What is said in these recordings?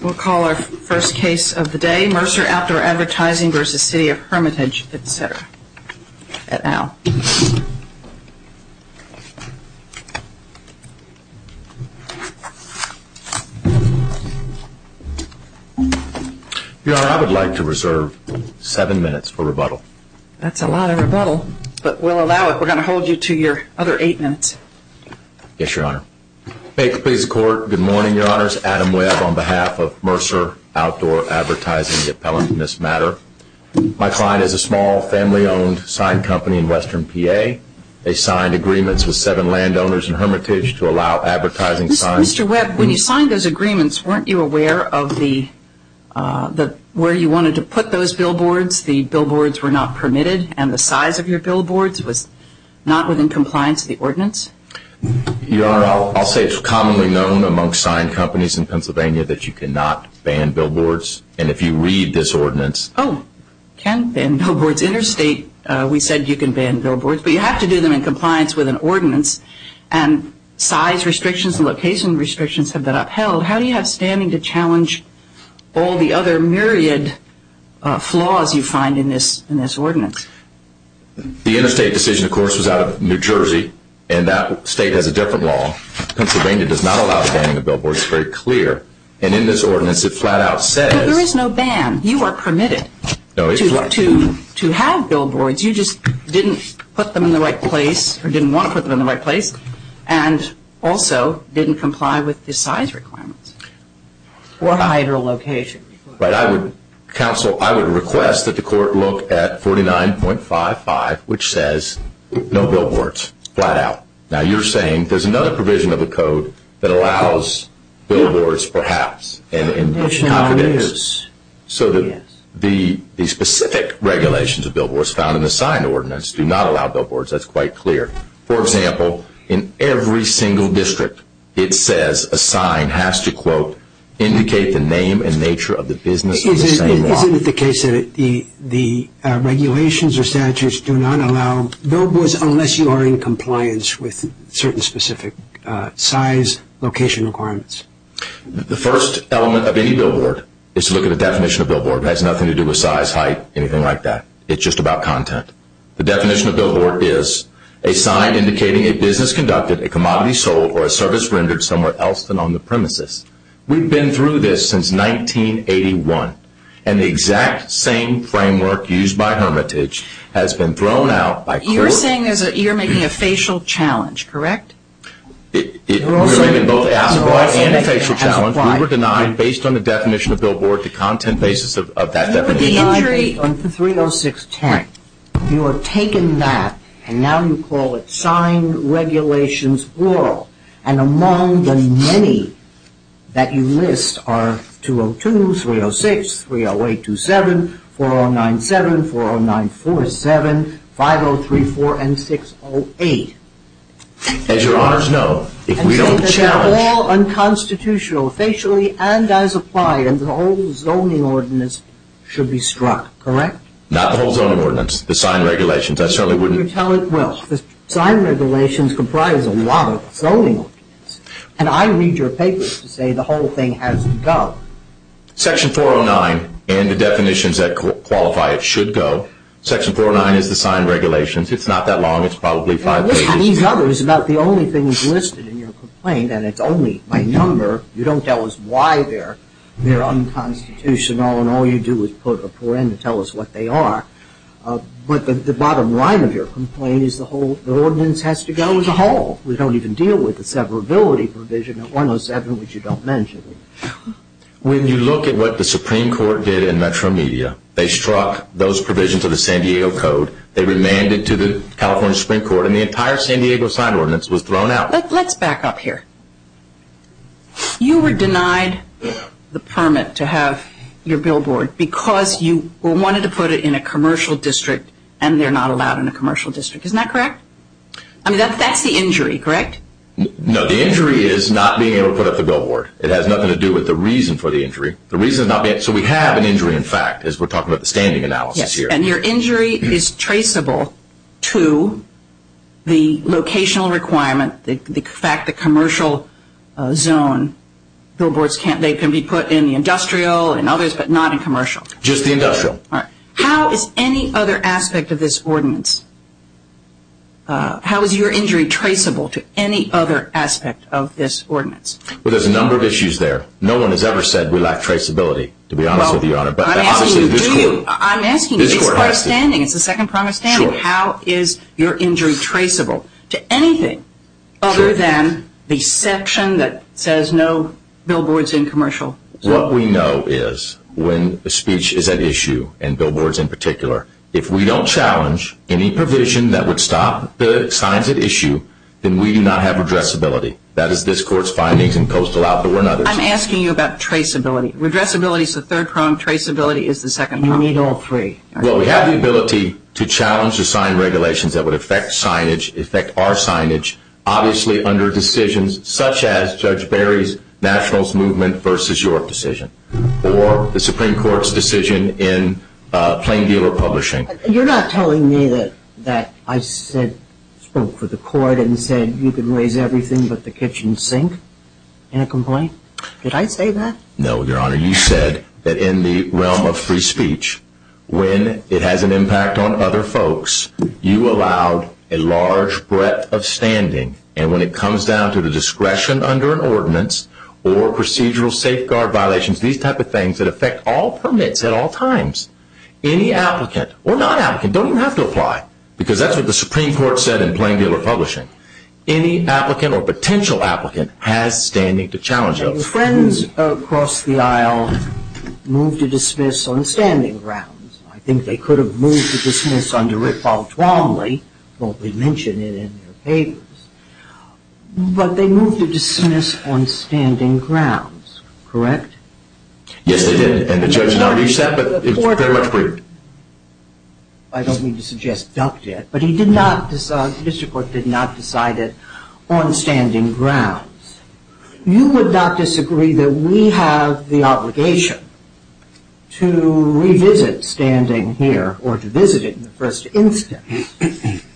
We'll call our first case of the day, MercerOutdoorAdvertising v. CityofHermitage, et.al. Your Honor, I would like to reserve seven minutes for rebuttal. That's a lot of rebuttal, but we'll allow it. We're going to hold you to your other eight minutes. Yes, Your Honor. Make the case to court. Good morning, Your Honors. Adam Webb on behalf of MercerOutdoorAdvertising, the appellant in this matter. My client is a small family-owned sign company in western PA. They signed agreements with seven landowners in Hermitage to allow advertising signs. Mr. Webb, when you signed those agreements, weren't you aware of where you wanted to put those billboards? The billboards were not permitted, and the size of your billboards was not within compliance with the ordinance? Your Honor, I'll say it's commonly known among sign companies in Pennsylvania that you cannot ban billboards, and if you read this ordinance... Oh, you can ban billboards. Interstate, we said you can ban billboards, but you have to do them in compliance with an ordinance, and size restrictions and location restrictions have been upheld. How do you have standing to challenge all the other myriad flaws you find in this ordinance? The interstate decision, of course, was out of New Jersey, and that state has a different law. Pennsylvania does not allow banning of billboards. It's very clear. And in this ordinance, it flat out says... But there is no ban. You are permitted to have billboards. You just didn't put them in the right place or didn't want to put them in the right place and also didn't comply with the size requirements or height or location requirements. Counsel, I would request that the court look at 49.55, which says no billboards, flat out. Now, you're saying there's another provision of the code that allows billboards, perhaps, and it contradicts so that the specific regulations of billboards found in the signed ordinance do not allow billboards. That's quite clear. For example, in every single district, it says a sign has to, quote, indicate the name and nature of the business of the same law. Isn't it the case that the regulations or statutes do not allow billboards unless you are in compliance with certain specific size, location requirements? The first element of any billboard is to look at the definition of billboard. It has nothing to do with size, height, anything like that. It's just about content. The definition of billboard is a sign indicating a business conducted, a commodity sold, or a service rendered somewhere else than on the premises. We've been through this since 1981, and the exact same framework used by hermitage has been thrown out by court. You're saying you're making a facial challenge, correct? We're making both an as-apart and a facial challenge. We were denied, based on the definition of billboard, the content basis of that definition. You were denied the 306-10. You have taken that, and now you call it signed regulations, plural. And among the many that you list are 202, 306, 308-27, 409-7, 409-47, 503-4, and 608. As your honors know, if we don't challenge... ...and as applied, the whole zoning ordinance should be struck, correct? Not the whole zoning ordinance. The signed regulations. I certainly wouldn't... You tell it will. The signed regulations comprise a lot of zoning ordinances. And I read your papers to say the whole thing has to go. Section 409 and the definitions that qualify it should go. Section 409 is the signed regulations. It's not that long. It's probably five pages. I listen to these others about the only things listed in your complaint, and it's only by number. You don't tell us why they're unconstitutional, and all you do is put a forend to tell us what they are. But the bottom line of your complaint is the ordinance has to go as a whole. We don't even deal with the severability provision at 107, which you don't mention. When you look at what the Supreme Court did in Metro Media, they struck those provisions of the San Diego Code. They remanded to the California Supreme Court, and the entire San Diego signed ordinance was thrown out. Let's back up here. You were denied the permit to have your billboard because you wanted to put it in a commercial district, and they're not allowed in a commercial district. Isn't that correct? I mean, that's the injury, correct? No, the injury is not being able to put up the billboard. It has nothing to do with the reason for the injury. So we have an injury, in fact, as we're talking about the standing analysis here. And your injury is traceable to the locational requirement, the fact that commercial zone billboards, they can be put in the industrial and others, but not in commercial. Just the industrial. How is any other aspect of this ordinance, how is your injury traceable to any other aspect of this ordinance? Well, there's a number of issues there. No one has ever said we lack traceability, to be honest with you, Your Honor. I'm asking you, do you? I'm asking you, this part of standing, it's the second part of standing. Sure. How is your injury traceable to anything other than the section that says no billboards in commercial? What we know is when a speech is at issue, and billboards in particular, if we don't challenge any provision that would stop the signs at issue, then we do not have redressability. That is this Court's findings, and Coastal Outdoor and others. I'm asking you about traceability. Redressability is the third prong. Traceability is the second prong. You need all three. Well, we have the ability to challenge or sign regulations that would affect signage, affect our signage, obviously under decisions such as Judge Barry's Nationals Movement v. York decision, or the Supreme Court's decision in Plain Dealer Publishing. You're not telling me that I spoke for the Court and said you can raise everything but the kitchen sink in a complaint? Did I say that? No, Your Honor. You said that in the realm of free speech, when it has an impact on other folks, you allowed a large breadth of standing, and when it comes down to the discretion under an ordinance or procedural safeguard violations, these type of things that affect all permits at all times, any applicant, or non-applicant, don't even have to apply, because that's what the Supreme Court said in Plain Dealer Publishing. Any applicant or potential applicant has standing to challenge those. Your friends across the aisle moved to dismiss on standing grounds. I think they could have moved to dismiss under it, probably wrongly, but they mentioned it in their papers. But they moved to dismiss on standing grounds, correct? Yes, they did. I don't mean to suggest ducted, but the district court did not decide it on standing grounds. You would not disagree that we have the obligation to revisit standing here or to visit it in the first instance,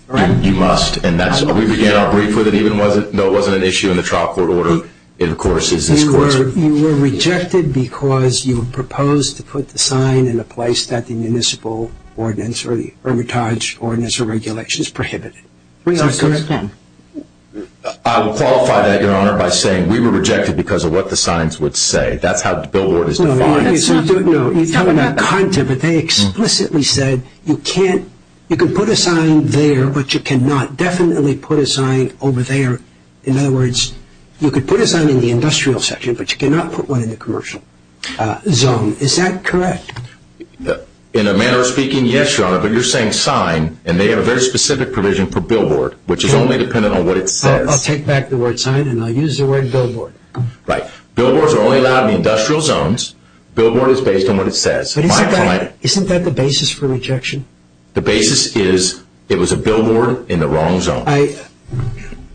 correct? You must, and we began our brief with it. No, it wasn't an issue in the trial court order. You were rejected because you proposed to put the sign in a place that the municipal ordinance or the hermitage ordinance or regulation prohibited. I will qualify that, Your Honor, by saying we were rejected because of what the signs would say. That's how the billboard is defined. No, you're talking about content, but they explicitly said you can put a sign there, but you cannot definitely put a sign over there. In other words, you could put a sign in the industrial section, but you cannot put one in the commercial zone. Is that correct? In a manner of speaking, yes, Your Honor. But you're saying sign, and they have a very specific provision for billboard, which is only dependent on what it says. I'll take back the word sign, and I'll use the word billboard. Right. Billboards are only allowed in industrial zones. Billboard is based on what it says. Isn't that the basis for rejection? The basis is it was a billboard in the wrong zone.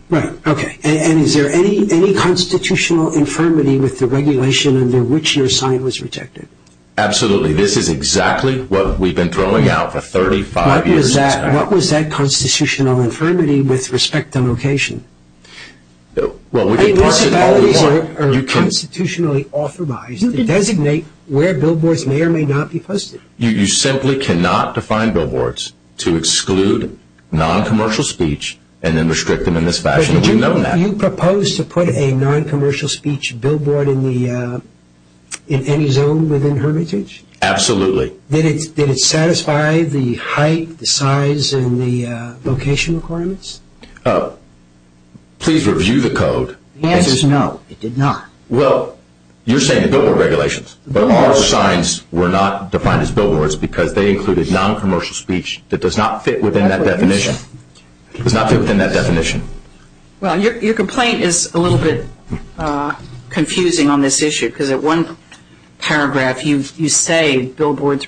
Right. Okay. And is there any constitutional infirmity with the regulation under which your sign was rejected? Absolutely. This is exactly what we've been throwing out for 35 years. What was that constitutional infirmity with respect to location? I mean, what about these are constitutionally authorized to designate where billboards may or may not be posted? You simply cannot define billboards to exclude noncommercial speech and then restrict them in this fashion. We know that. You propose to put a noncommercial speech billboard in any zone within hermitage? Absolutely. Did it satisfy the height, the size, and the location requirements? Please review the code. The answer is no, it did not. Well, you're saying the billboard regulations. But our signs were not defined as billboards because they included noncommercial speech that does not fit within that definition. It does not fit within that definition. Well, your complaint is a little bit confusing on this issue because at one paragraph you say billboards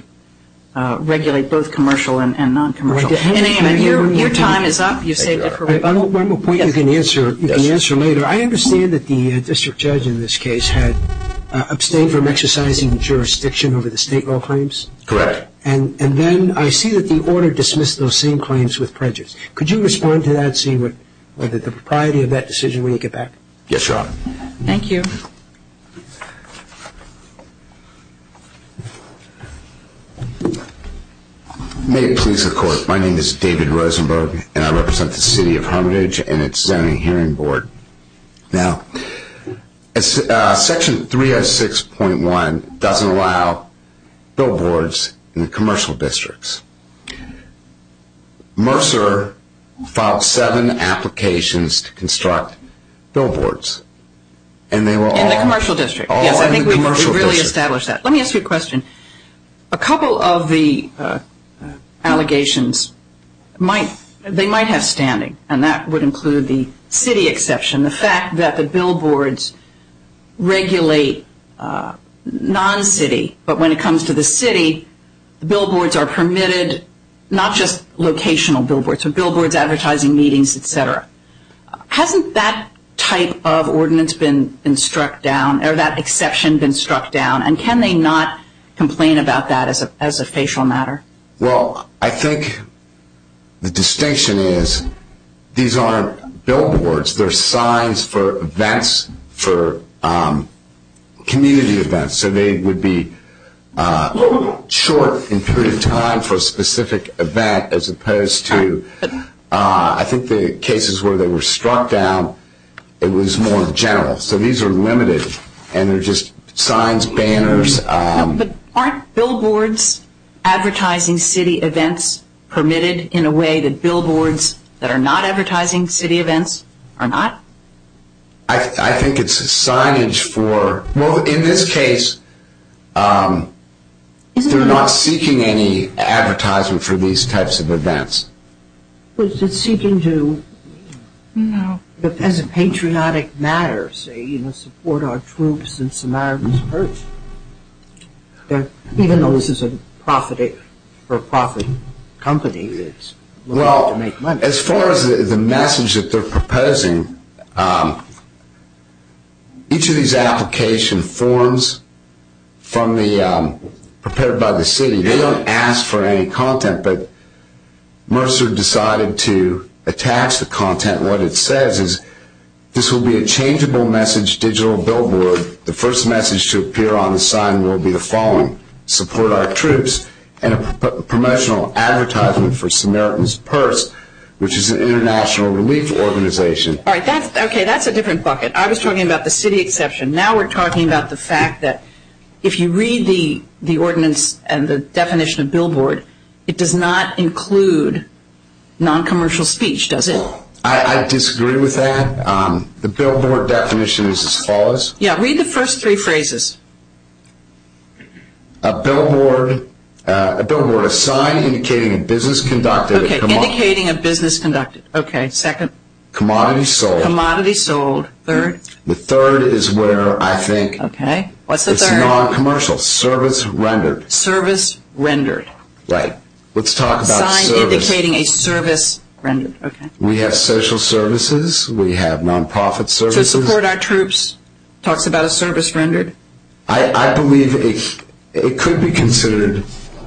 regulate both commercial and noncommercial. And your time is up. You've saved it for later. One more point you can answer later. I understand that the district judge in this case had abstained from exercising jurisdiction over the state law claims. Correct. And then I see that the order dismissed those same claims with prejudice. Could you respond to that, seeing whether the propriety of that decision when you get back? Yes, Your Honor. Thank you. May it please the Court. First, my name is David Rosenberg, and I represent the city of Hermitage and its zoning hearing board. Now, Section 306.1 doesn't allow billboards in the commercial districts. Mercer filed seven applications to construct billboards, and they were all in the commercial district. Yes, I think we really established that. Let me ask you a question. A couple of the allegations, they might have standing, and that would include the city exception, the fact that the billboards regulate non-city, but when it comes to the city, billboards are permitted, not just locational billboards, but billboards advertising meetings, et cetera. Hasn't that type of ordinance been struck down, or that exception been struck down, and can they not complain about that as a facial matter? Well, I think the distinction is these aren't billboards. They're signs for events, for community events. So they would be short in period of time for a specific event, as opposed to I think the cases where they were struck down, it was more general. So these are limited, and they're just signs, banners. But aren't billboards advertising city events permitted in a way that billboards that are not advertising city events are not? I think it's signage for, well, in this case, they're not seeking any advertisement for these types of events. Was it seeking to, as a patriotic matter, say, support our troops in Samaritan's Purse? Even though this is a profit company that's willing to make money. As far as the message that they're proposing, each of these application forms prepared by the city, they don't ask for any content, but Mercer decided to attach the content. What it says is, this will be a changeable message digital billboard. The first message to appear on the sign will be the following, and a promotional advertisement for Samaritan's Purse, which is an international relief organization. Okay, that's a different bucket. I was talking about the city exception. Now we're talking about the fact that if you read the ordinance and the definition of billboard, it does not include noncommercial speech, does it? I disagree with that. The billboard definition is as follows. Yeah, read the first three phrases. A billboard, a sign indicating a business conducted. Okay, indicating a business conducted. Okay, second. Commodity sold. Commodity sold. Third. The third is where I think it's noncommercial. Service rendered. Service rendered. Right. Let's talk about service. Sign indicating a service rendered. We have social services. We have nonprofit services. So support our troops talks about a service rendered? I believe it could be considered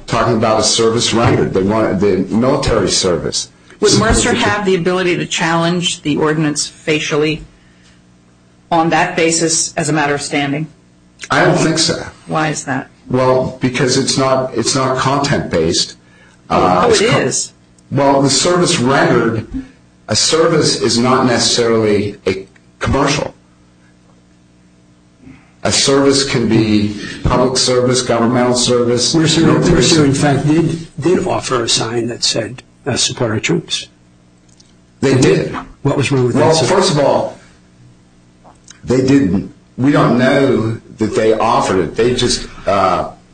talking about a service rendered, the military service. Would Mercer have the ability to challenge the ordinance facially on that basis as a matter of standing? I don't think so. Why is that? Well, because it's not content-based. Oh, it is. Well, the service rendered, a service is not necessarily a commercial. A service can be public service, governmental service. Mercer, in fact, did offer a sign that said support our troops. They did. What was wrong with that? Well, first of all, they didn't. We don't know that they offered it. They just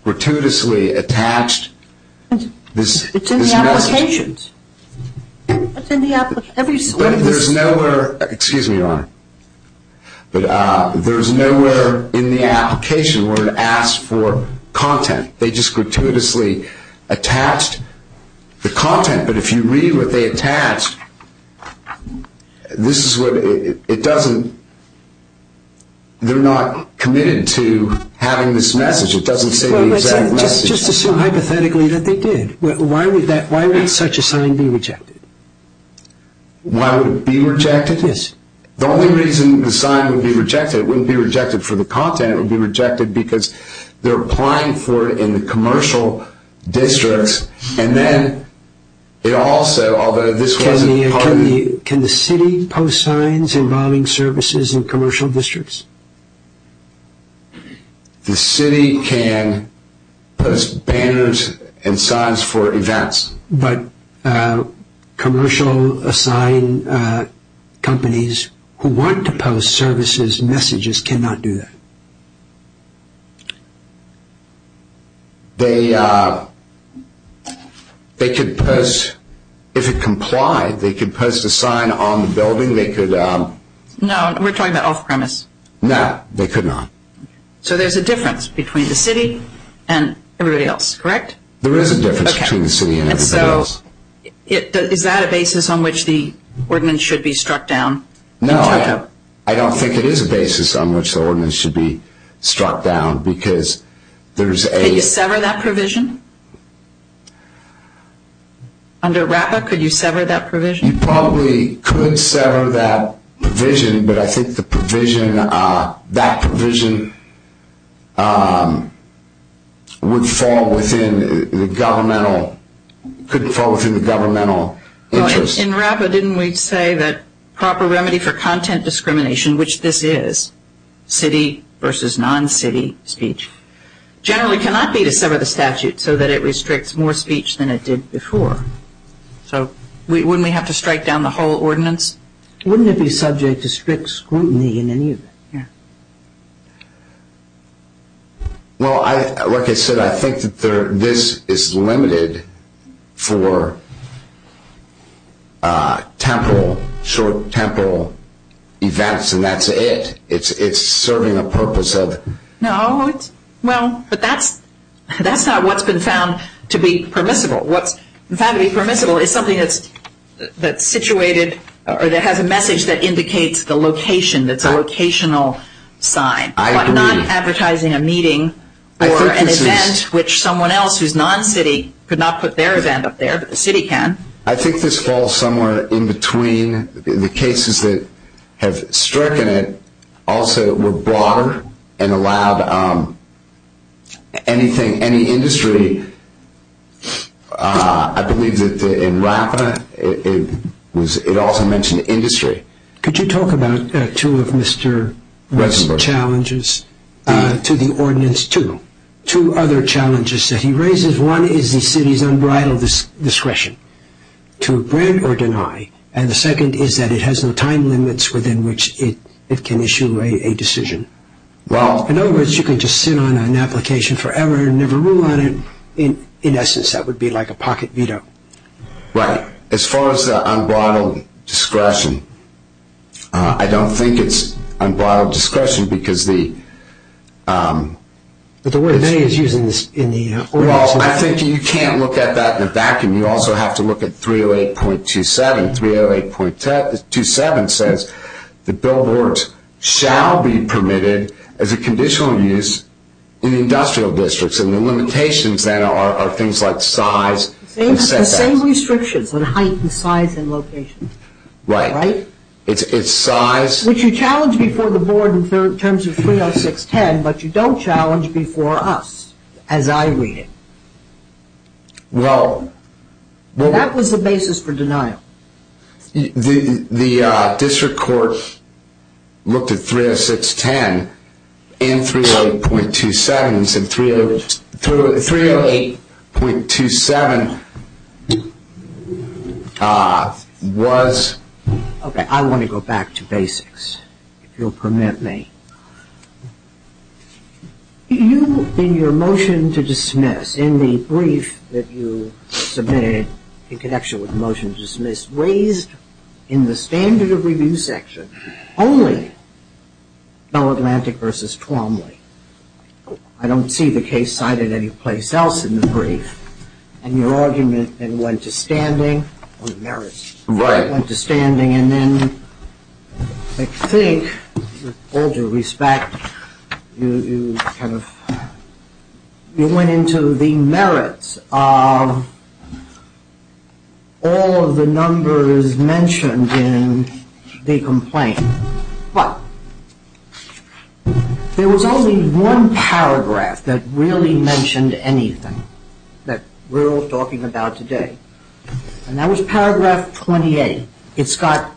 gratuitously attached this message. It's in the applications. It's in the application. But there's nowhere, excuse me, Your Honor, but there's nowhere in the application where it asks for content. They just gratuitously attached the content. But if you read what they attached, this is what it doesn't, they're not committed to having this message. It doesn't say the exact message. Just assume hypothetically that they did. Why would such a sign be rejected? Why would it be rejected? Yes. The only reason the sign would be rejected, it wouldn't be rejected for the content, it would be rejected because they're applying for it in the commercial districts. And then it also, although this wasn't part of the- Can the city post signs involving services in commercial districts? The city can post banners and signs for events. But commercial sign companies who want to post services messages cannot do that. They could post, if it complied, they could post a sign on the building, they could- No, we're talking about off-premise. No, they could not. So there's a difference between the city and everybody else, correct? There is a difference between the city and everybody else. And so is that a basis on which the ordinance should be struck down? No, I don't think it is a basis on which the ordinance should be struck down because there's a- Could you sever that provision? Under RAPA, could you sever that provision? You probably could sever that provision, but I think the provision, that provision would fall within the governmental, could fall within the governmental interest. In RAPA, didn't we say that proper remedy for content discrimination, which this is, city versus non-city speech, generally cannot be to sever the statute so that it restricts more speech than it did before. So wouldn't we have to strike down the whole ordinance? Wouldn't it be subject to strict scrutiny in any event? Well, like I said, I think that this is limited for temporal, short temporal events and that's it. It's serving a purpose of- No, well, but that's not what's been found to be permissible. What's found to be permissible is something that's situated or that has a message that indicates the location, that's a locational sign. But not advertising a meeting or an event which someone else who's non-city could not put their event up there, but the city can. I think this falls somewhere in between. The cases that have stricken it also were broader and allowed anything, any industry. I believe that in RAPA it also mentioned industry. Could you talk about two of Mr. West's challenges to the ordinance too? Two other challenges that he raises. One is the city's unbridled discretion to grant or deny and the second is that it has no time limits within which it can issue a decision. In other words, you can just sit on an application forever and never rule on it. In essence, that would be like a pocket veto. Right. As far as the unbridled discretion, I don't think it's unbridled discretion because the- But the way that he's using this in the ordinance- Well, I think you can't look at that in a vacuum. You also have to look at 308.27. 308.27 says the billboards shall be permitted as a conditional use in industrial districts and the limitations then are things like size- The same restrictions on height and size and location. Right. It's size- Which you challenge before the board in terms of 306.10, but you don't challenge before us as I read it. Well- That was the basis for denial. The district court looked at 306.10 in 308.27 and 308.27 was- Okay, I want to go back to basics, if you'll permit me. You, in your motion to dismiss, in the brief that you submitted in connection with the motion to dismiss, raised in the standard of review section only Bell Atlantic v. Twomley. I don't see the case cited anyplace else in the brief. And your argument then went to standing on the merits. Right. It went to standing and then I think, with all due respect, you went into the merits of all of the numbers mentioned in the complaint. But there was only one paragraph that really mentioned anything that we're all talking about today and that was paragraph 28. It's got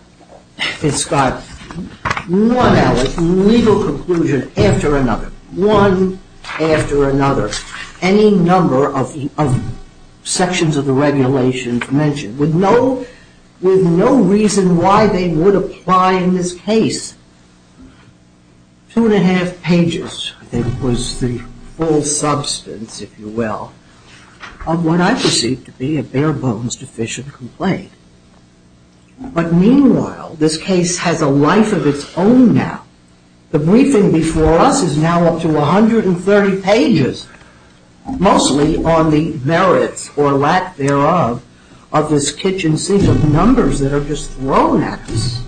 one legal conclusion after another, one after another. Any number of sections of the regulations mentioned with no reason why they would apply in this case. Two and a half pages, I think, was the full substance, if you will, of what I perceive to be a bare bones deficient complaint. But meanwhile, this case has a life of its own now. The briefing before us is now up to 130 pages, mostly on the merits or lack thereof of this kitchen sink of numbers that are just thrown at us.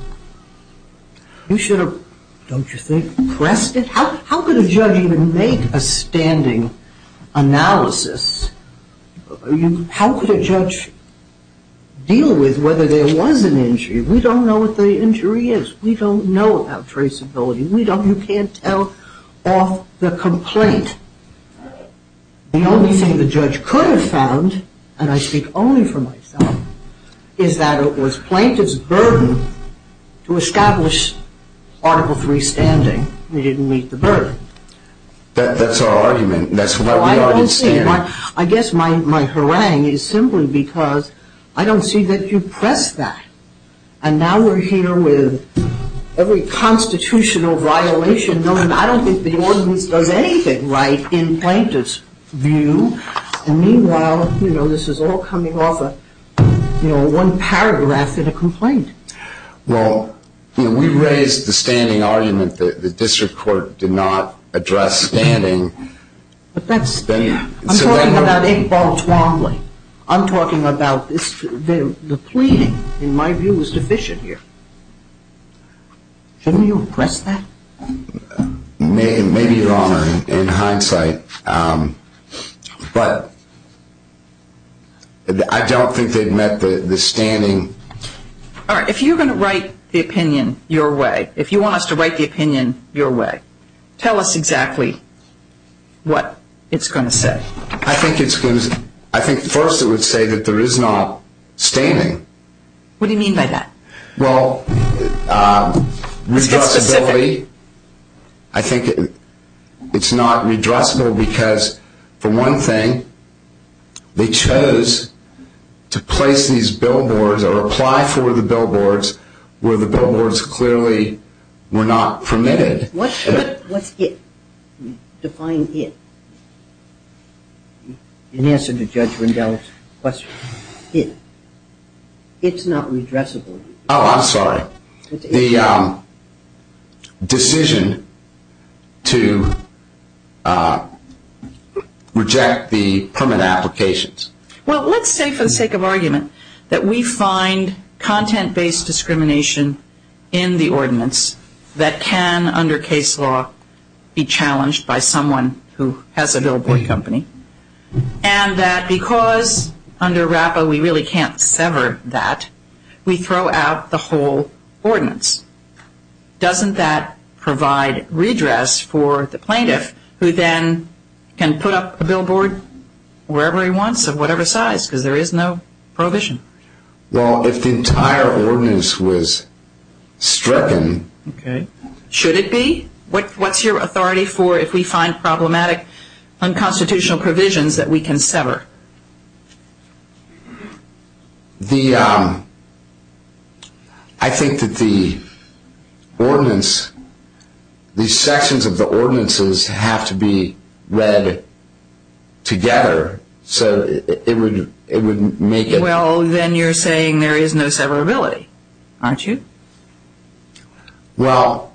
You should have, don't you think, pressed it? How could a judge even make a standing analysis? How could a judge deal with whether there was an injury? We don't know what the injury is. We don't know about traceability. You can't tell off the complaint. The only thing the judge could have found, and I speak only for myself, is that it was plaintiff's burden to establish Article III standing. We didn't meet the burden. That's our argument, and that's why we already stand. I guess my harangue is simply because I don't see that you pressed that. And now we're here with every constitutional violation known. I don't think the ordinance does anything right in plaintiff's view. And meanwhile, this is all coming off of one paragraph in a complaint. Well, we raised the standing argument that the district court did not address standing. I'm talking about Iqbal Twombly. I'm talking about the pleading, in my view, was deficient here. Shouldn't you have pressed that? Maybe you're wrong in hindsight, but I don't think they'd met the standing. All right, if you're going to write the opinion your way, if you want us to write the opinion your way, tell us exactly what it's going to say. I think first it would say that there is not standing. What do you mean by that? Well, redressability. I think it's not redressable because, for one thing, they chose to place these billboards or apply for the billboards where the billboards clearly were not permitted. What's it? Define it. In answer to Judge Rendell's question, it. It's not redressable. Oh, I'm sorry. The decision to reject the permit applications. Well, let's say for the sake of argument that we find content-based discrimination in the ordinance that can, under case law, be challenged by someone who has a billboard company and that because under RAPA we really can't sever that, we throw out the whole ordinance. Doesn't that provide redress for the plaintiff who then can put up a billboard wherever he wants of whatever size because there is no prohibition? Well, if the entire ordinance was stricken. Okay. Should it be? What's your authority for if we find problematic unconstitutional provisions that we can sever? The, I think that the ordinance, these sections of the ordinances have to be read together so it would make it. Well, then you're saying there is no severability, aren't you? Well,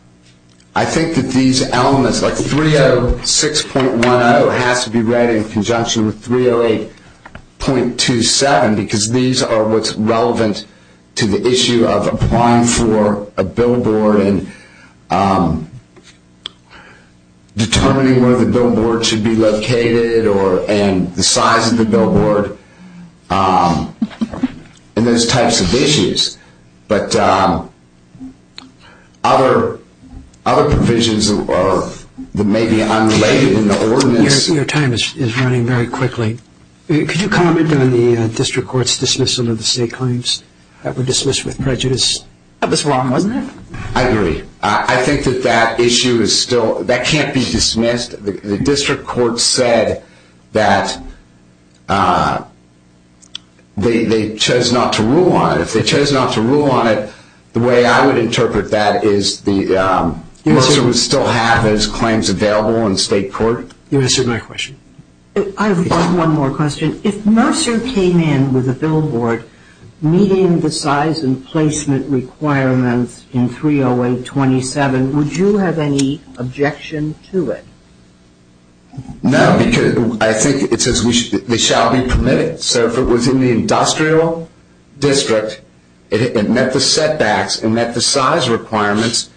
I think that these elements, like 306.10 has to be read in conjunction with 308.27 because these are what's relevant to the issue of applying for a billboard and determining where the billboard should be located and the size of the billboard and those types of issues. But other provisions that may be unrelated in the ordinance. Your time is running very quickly. Could you comment on the district court's dismissal of the state claims that were dismissed with prejudice? That was wrong, wasn't it? I agree. I think that that issue is still, that can't be dismissed. The district court said that they chose not to rule on it. If they chose not to rule on it, the way I would interpret that is Mercer would still have those claims available in state court. You answered my question. I have one more question. If Mercer came in with a billboard meeting the size and placement requirements in 308.27, would you have any objection to it? No, because I think it says they shall be permitted. So if it was in the industrial district, it met the setbacks and met the size requirements,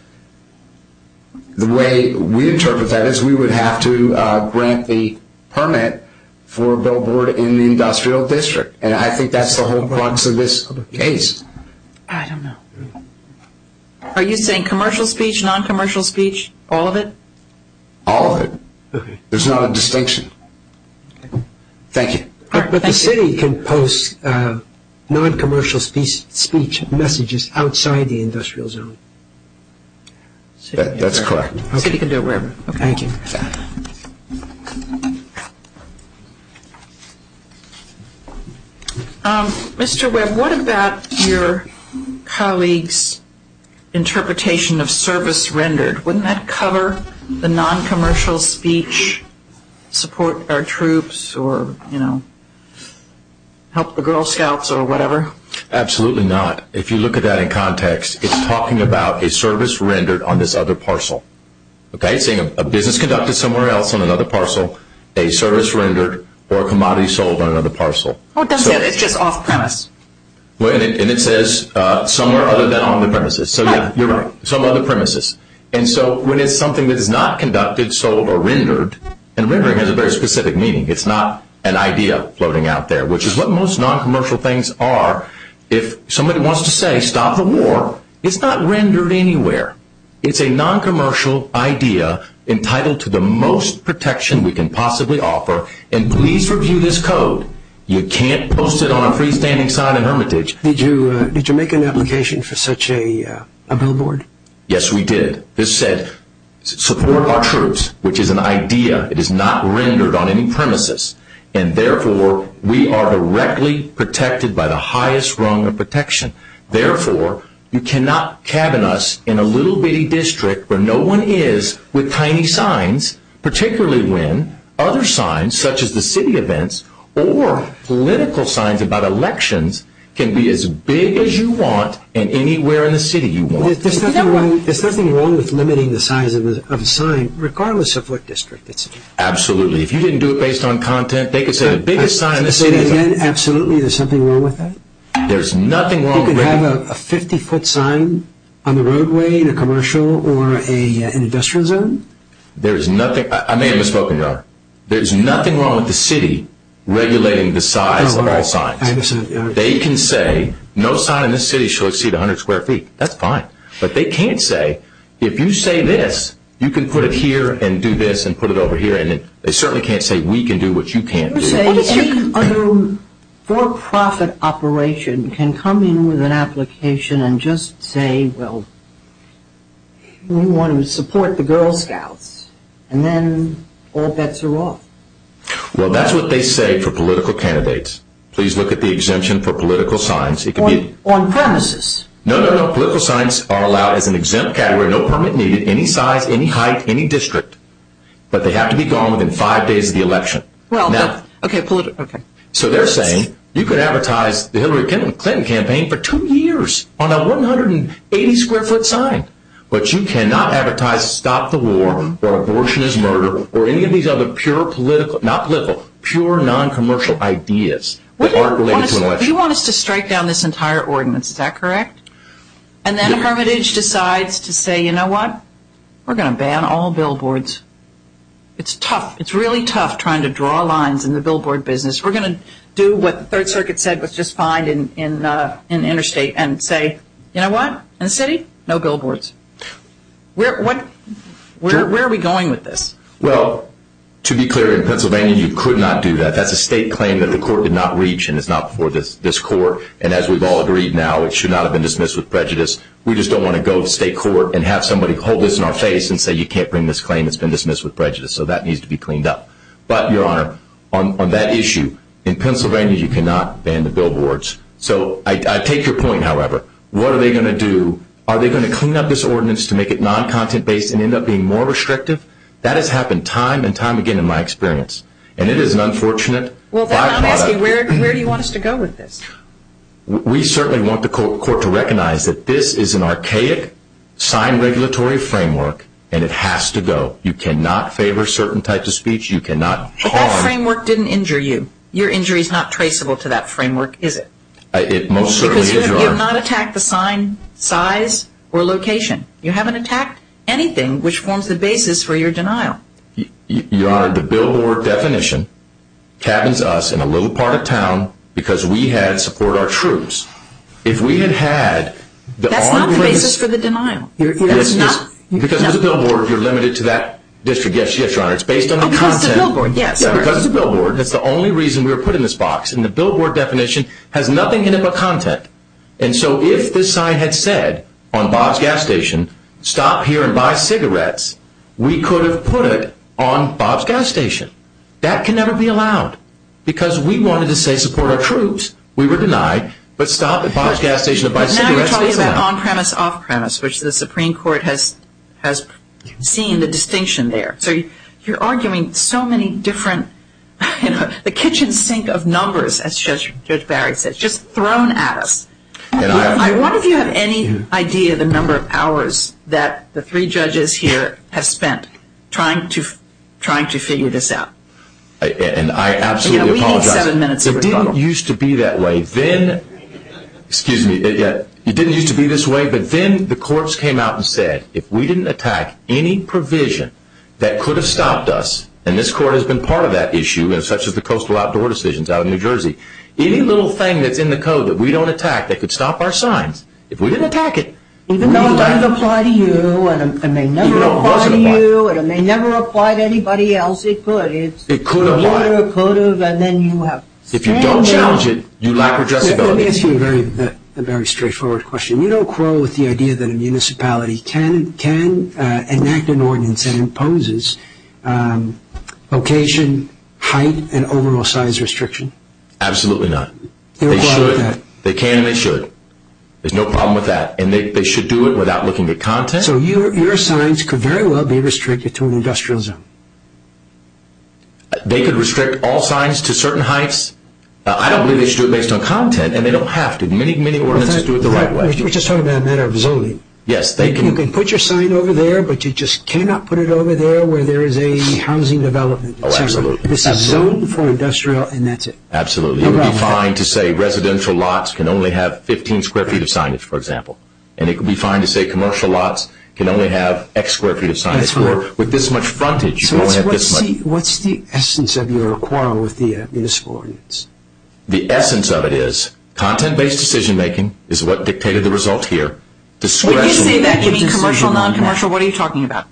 the way we interpret that is we would have to grant the permit for a billboard in the industrial district. And I think that's the whole crux of this case. I don't know. Are you saying commercial speech, non-commercial speech, all of it? All of it. There's not a distinction. Thank you. But the city can post non-commercial speech messages outside the industrial zone. That's correct. The city can do it wherever. Thank you. Mr. Webb, what about your colleague's interpretation of service rendered? Wouldn't that cover the non-commercial speech, support our troops or help the Girl Scouts or whatever? Absolutely not. If you look at that in context, it's talking about a service rendered on this other parcel. It's saying a business conducted somewhere else on another parcel, a service rendered, or a commodity sold on another parcel. It doesn't say that. It's just off premise. And it says somewhere other than on the premises. You're right. Some other premises. And so when it's something that is not conducted, sold, or rendered, and rendering has a very specific meaning. It's not an idea floating out there, which is what most non-commercial things are. If somebody wants to say stop the war, it's not rendered anywhere. It's a non-commercial idea entitled to the most protection we can possibly offer. And please review this code. You can't post it on a freestanding sign in hermitage. Did you make an application for such a billboard? Yes, we did. This said support our troops, which is an idea. It is not rendered on any premises. And therefore, we are directly protected by the highest rung of protection. Therefore, you cannot cabin us in a little bitty district where no one is with tiny signs, particularly when other signs, such as the city events, or political signs about elections, can be as big as you want and anywhere in the city you want. There's nothing wrong with limiting the size of a sign, regardless of what district it's in. Absolutely. If you didn't do it based on content, they could say the biggest sign in the city is a... Absolutely. There's something wrong with that? There's nothing wrong with... You could have a 50-foot sign on the roadway in a commercial or an industrial zone? There's nothing... I may have misspoken, Robert. There's nothing wrong with the city regulating the size of all signs. They can say no sign in this city shall exceed 100 square feet. That's fine. But they can't say if you say this, you can put it here and do this and put it over here. And they certainly can't say we can do what you can't do. They say any other for-profit operation can come in with an application and just say, well, we want to support the Girl Scouts, and then all bets are off. Well, that's what they say for political candidates. Please look at the exemption for political signs. It can be... On premises. No, no, no. Political signs are allowed as an exempt category. No permit needed, any size, any height, any district. But they have to be gone within five days of the election. Okay, political... So they're saying you can advertise the Hillary Clinton campaign for two years on a 180 square foot sign, but you cannot advertise stop the war or abortion is murder or any of these other pure political, not political, pure non-commercial ideas that aren't related to an election. You want us to strike down this entire ordinance, is that correct? And then Hermitage decides to say, you know what? We're going to ban all billboards. It's tough. It's really tough trying to draw lines in the billboard business. We're going to do what the Third Circuit said was just fine in interstate and say, you know what? In the city, no billboards. Where are we going with this? Well, to be clear, in Pennsylvania you could not do that. That's a state claim that the court did not reach, and it's not before this court. And as we've all agreed now, it should not have been dismissed with prejudice. We just don't want to go to state court and have somebody hold this in our face and say you can't bring this claim, it's been dismissed with prejudice. So that needs to be cleaned up. But, Your Honor, on that issue, in Pennsylvania you cannot ban the billboards. So I take your point, however. What are they going to do? Are they going to clean up this ordinance to make it non-content-based and end up being more restrictive? That has happened time and time again in my experience, and it is an unfortunate byproduct. Well, then I'm asking, where do you want us to go with this? We certainly want the court to recognize that this is an archaic sign regulatory framework, and it has to go. You cannot favor certain types of speech. You cannot harm. But that framework didn't injure you. Your injury is not traceable to that framework, is it? It most certainly is, Your Honor. Because you have not attacked the sign, size, or location. You haven't attacked anything which forms the basis for your denial. Your Honor, the billboard definition cabins us in a little part of town because we had support our troops. That's not the basis for the denial. Because it's a billboard, you're limited to that district. Yes, Your Honor. It's based on the content. Because it's a billboard, yes. Because it's a billboard, that's the only reason we were put in this box. And the billboard definition has nothing in it but content. And so if this sign had said, on Bob's Gas Station, stop here and buy cigarettes, we could have put it on Bob's Gas Station. That can never be allowed because we wanted to say support our troops. We were denied. But stop at Bob's Gas Station and buy cigarettes. But now you're talking about on-premise, off-premise, which the Supreme Court has seen the distinction there. So you're arguing so many different, you know, the kitchen sink of numbers, as Judge Barrett said, just thrown at us. I wonder if you have any idea the number of hours that the three judges here have spent trying to figure this out. And I absolutely apologize. You know, we need seven minutes of rebuttal. It didn't used to be that way. Then, excuse me, it didn't used to be this way. But then the courts came out and said, if we didn't attack any provision that could have stopped us, and this Court has been part of that issue, such as the coastal outdoor decisions out of New Jersey, any little thing that's in the code that we don't attack that could stop our signs, if we didn't attack it. Even though it might apply to you, and it may never apply to you, and it may never apply to anybody else, it could. It could apply. It could have, and then you have. If you don't challenge it, you lack addressability. Let me ask you a very straightforward question. You don't quarrel with the idea that a municipality can enact an ordinance that imposes location, height, and overall size restriction? Absolutely not. They should. They can and they should. There's no problem with that. And they should do it without looking at content. So your signs could very well be restricted to an industrial zone? They could restrict all signs to certain heights. I don't believe they should do it based on content, and they don't have to. Many, many ordinances do it the right way. We're just talking about a matter of zoning. Yes, they can. You can put your sign over there, but you just cannot put it over there where there is a housing development. Oh, absolutely. This is zoned for industrial, and that's it. Absolutely. It would be fine to say residential lots can only have 15 square feet of signage, for example. And it would be fine to say commercial lots can only have X square feet of signage. With this much frontage, you can only have this much. What's the essence of your quarrel with the municipal ordinance? The essence of it is content-based decision-making is what dictated the result here. When you say that, you mean commercial, non-commercial? What are you talking about?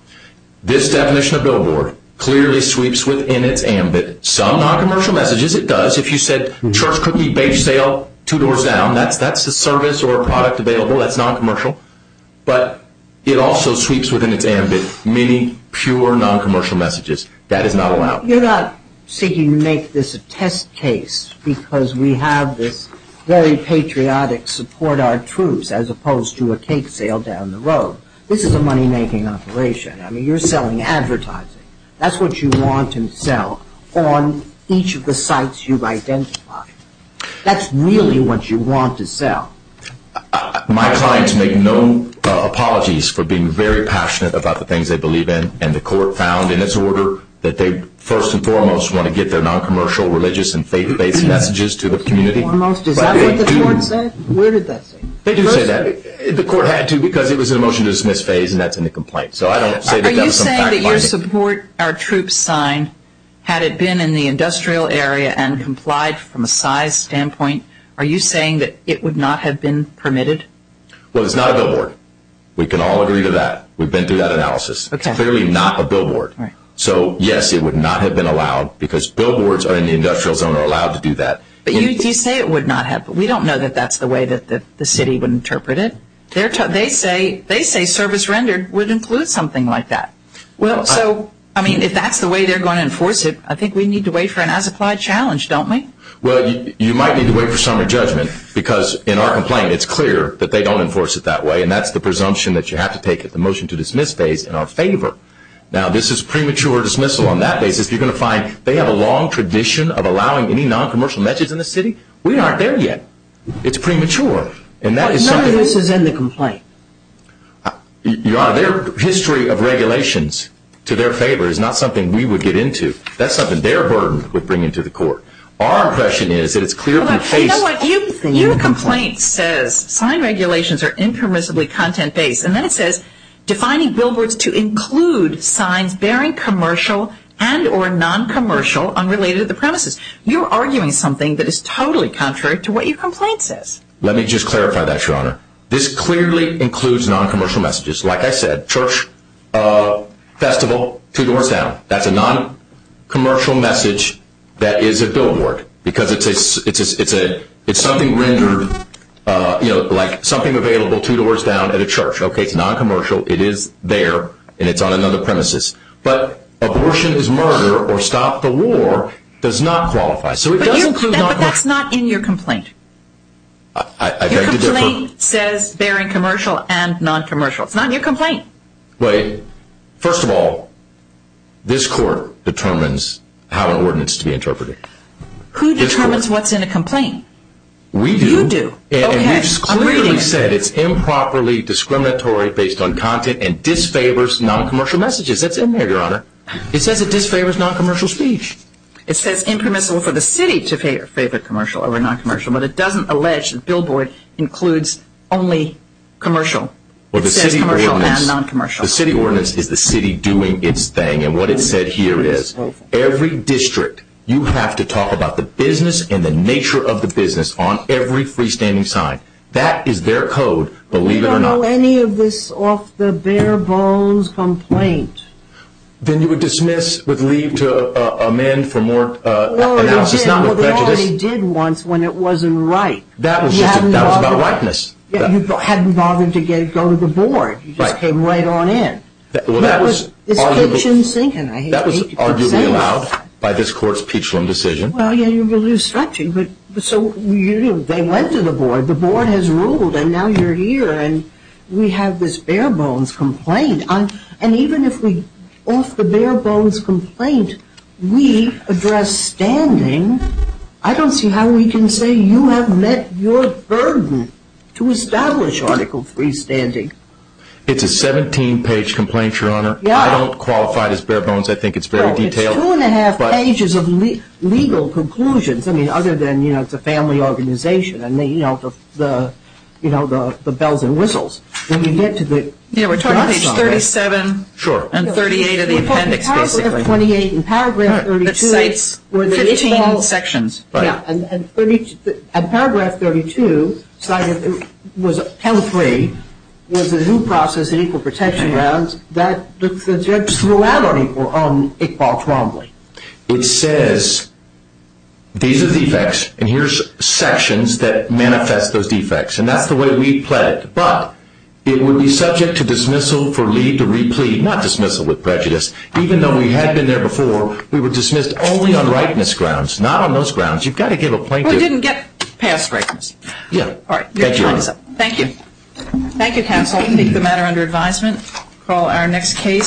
This definition of billboard clearly sweeps within its ambit some non-commercial messages. It does. If you said church cookie bake sale, two doors down, that's a service or a product available. That's non-commercial. But it also sweeps within its ambit many pure non-commercial messages. That is not allowed. You're not seeking to make this a test case because we have this very patriotic support our troops as opposed to a cake sale down the road. This is a money-making operation. I mean, you're selling advertising. That's what you want to sell on each of the sites you've identified. That's really what you want to sell. My clients make no apologies for being very passionate about the things they believe in, and the court found in its order that they first and foremost want to get their non-commercial, religious, and faith-based messages to the community. First and foremost? Is that what the court said? Where did that say? They do say that. The court had to because it was in a motion to dismiss phase, and that's in the complaint. Are you saying that your support our troops signed, had it been in the industrial area and complied from a size standpoint, are you saying that it would not have been permitted? Well, it's not a billboard. We can all agree to that. We've been through that analysis. It's clearly not a billboard. So, yes, it would not have been allowed because billboards in the industrial zone are allowed to do that. But you say it would not have, but we don't know that that's the way that the city would interpret it. They say service rendered would include something like that. Well, so, I mean, if that's the way they're going to enforce it, I think we need to wait for an as-applied challenge, don't we? Well, you might need to wait for summary judgment because in our complaint, it's clear that they don't enforce it that way, and that's the presumption that you have to take at the motion to dismiss phase in our favor. Now, this is premature dismissal on that basis. You're going to find they have a long tradition of allowing any non-commercial messages in the city. We aren't there yet. It's premature. But none of this is in the complaint. Your Honor, their history of regulations to their favor is not something we would get into. That's something their burden would bring into the court. Our impression is that it's clearly phased. Hold on. You know what? Your complaint says sign regulations are impermissibly content-based, and then it says defining billboards to include signs bearing commercial and or non-commercial unrelated to the premises. You're arguing something that is totally contrary to what your complaint says. Let me just clarify that, Your Honor. This clearly includes non-commercial messages. Like I said, church, festival, two doors down. That's a non-commercial message that is a billboard because it's something rendered like something available two doors down at a church. Okay? It's non-commercial. It is there, and it's on another premises. But abortion is murder or stop the war does not qualify, so it does include non-commercial. But that's not in your complaint. Your complaint says bearing commercial and non-commercial. It's not in your complaint. Wait. First of all, this court determines how an ordinance should be interpreted. Who determines what's in a complaint? We do. You do. Okay. And you clearly said it's improperly discriminatory based on content and disfavors non-commercial messages. That's in there, Your Honor. It says it disfavors non-commercial speech. It says impermissible for the city to favor commercial over non-commercial, but it doesn't allege that billboard includes only commercial. It says commercial and non-commercial. The city ordinance is the city doing its thing, and what it said here is every district, you have to talk about the business and the nature of the business on every freestanding sign. That is their code, believe it or not. I don't know any of this off the bare bones complaint. Then you would dismiss with leave to amend for more analysis, not with prejudice. Well, they only did once when it wasn't right. That was about whiteness. You hadn't bothered to go to the board. Right. You just came right on in. Well, that was arguably allowed by this court's Peachland decision. Well, yeah, you will lose structure, but so they went to the board. The board has ruled, and now you're here, and we have this bare bones complaint. And even if we, off the bare bones complaint, we address standing, I don't see how we can say you have met your burden to establish Article 3 standing. It's a 17-page complaint, Your Honor. I don't qualify it as bare bones. I think it's very detailed. It's two and a half pages of legal conclusions, I mean, other than, you know, it's a family organization and, you know, the bells and whistles. Yeah, we're talking page 37. Sure. And 38 of the appendix, basically. We're talking paragraph 28 and paragraph 32. That cites 15 sections. Right. Yeah, and paragraph 32, Title 3, was a new process in equal protection grounds. The judge threw out on it, Paul Trombley. It says these are defects, and here's sections that manifest those defects, and that's the way we've pledged. But it would be subject to dismissal for leave to replead, not dismissal with prejudice. Even though we had been there before, we were dismissed only on rightness grounds, not on those grounds. You've got to give a plaintiff. We didn't get past rightness. Yeah. All right. Thank you, Your Honor. Thank you. Thank you, counsel. I think the matter under advisement. Call our next case.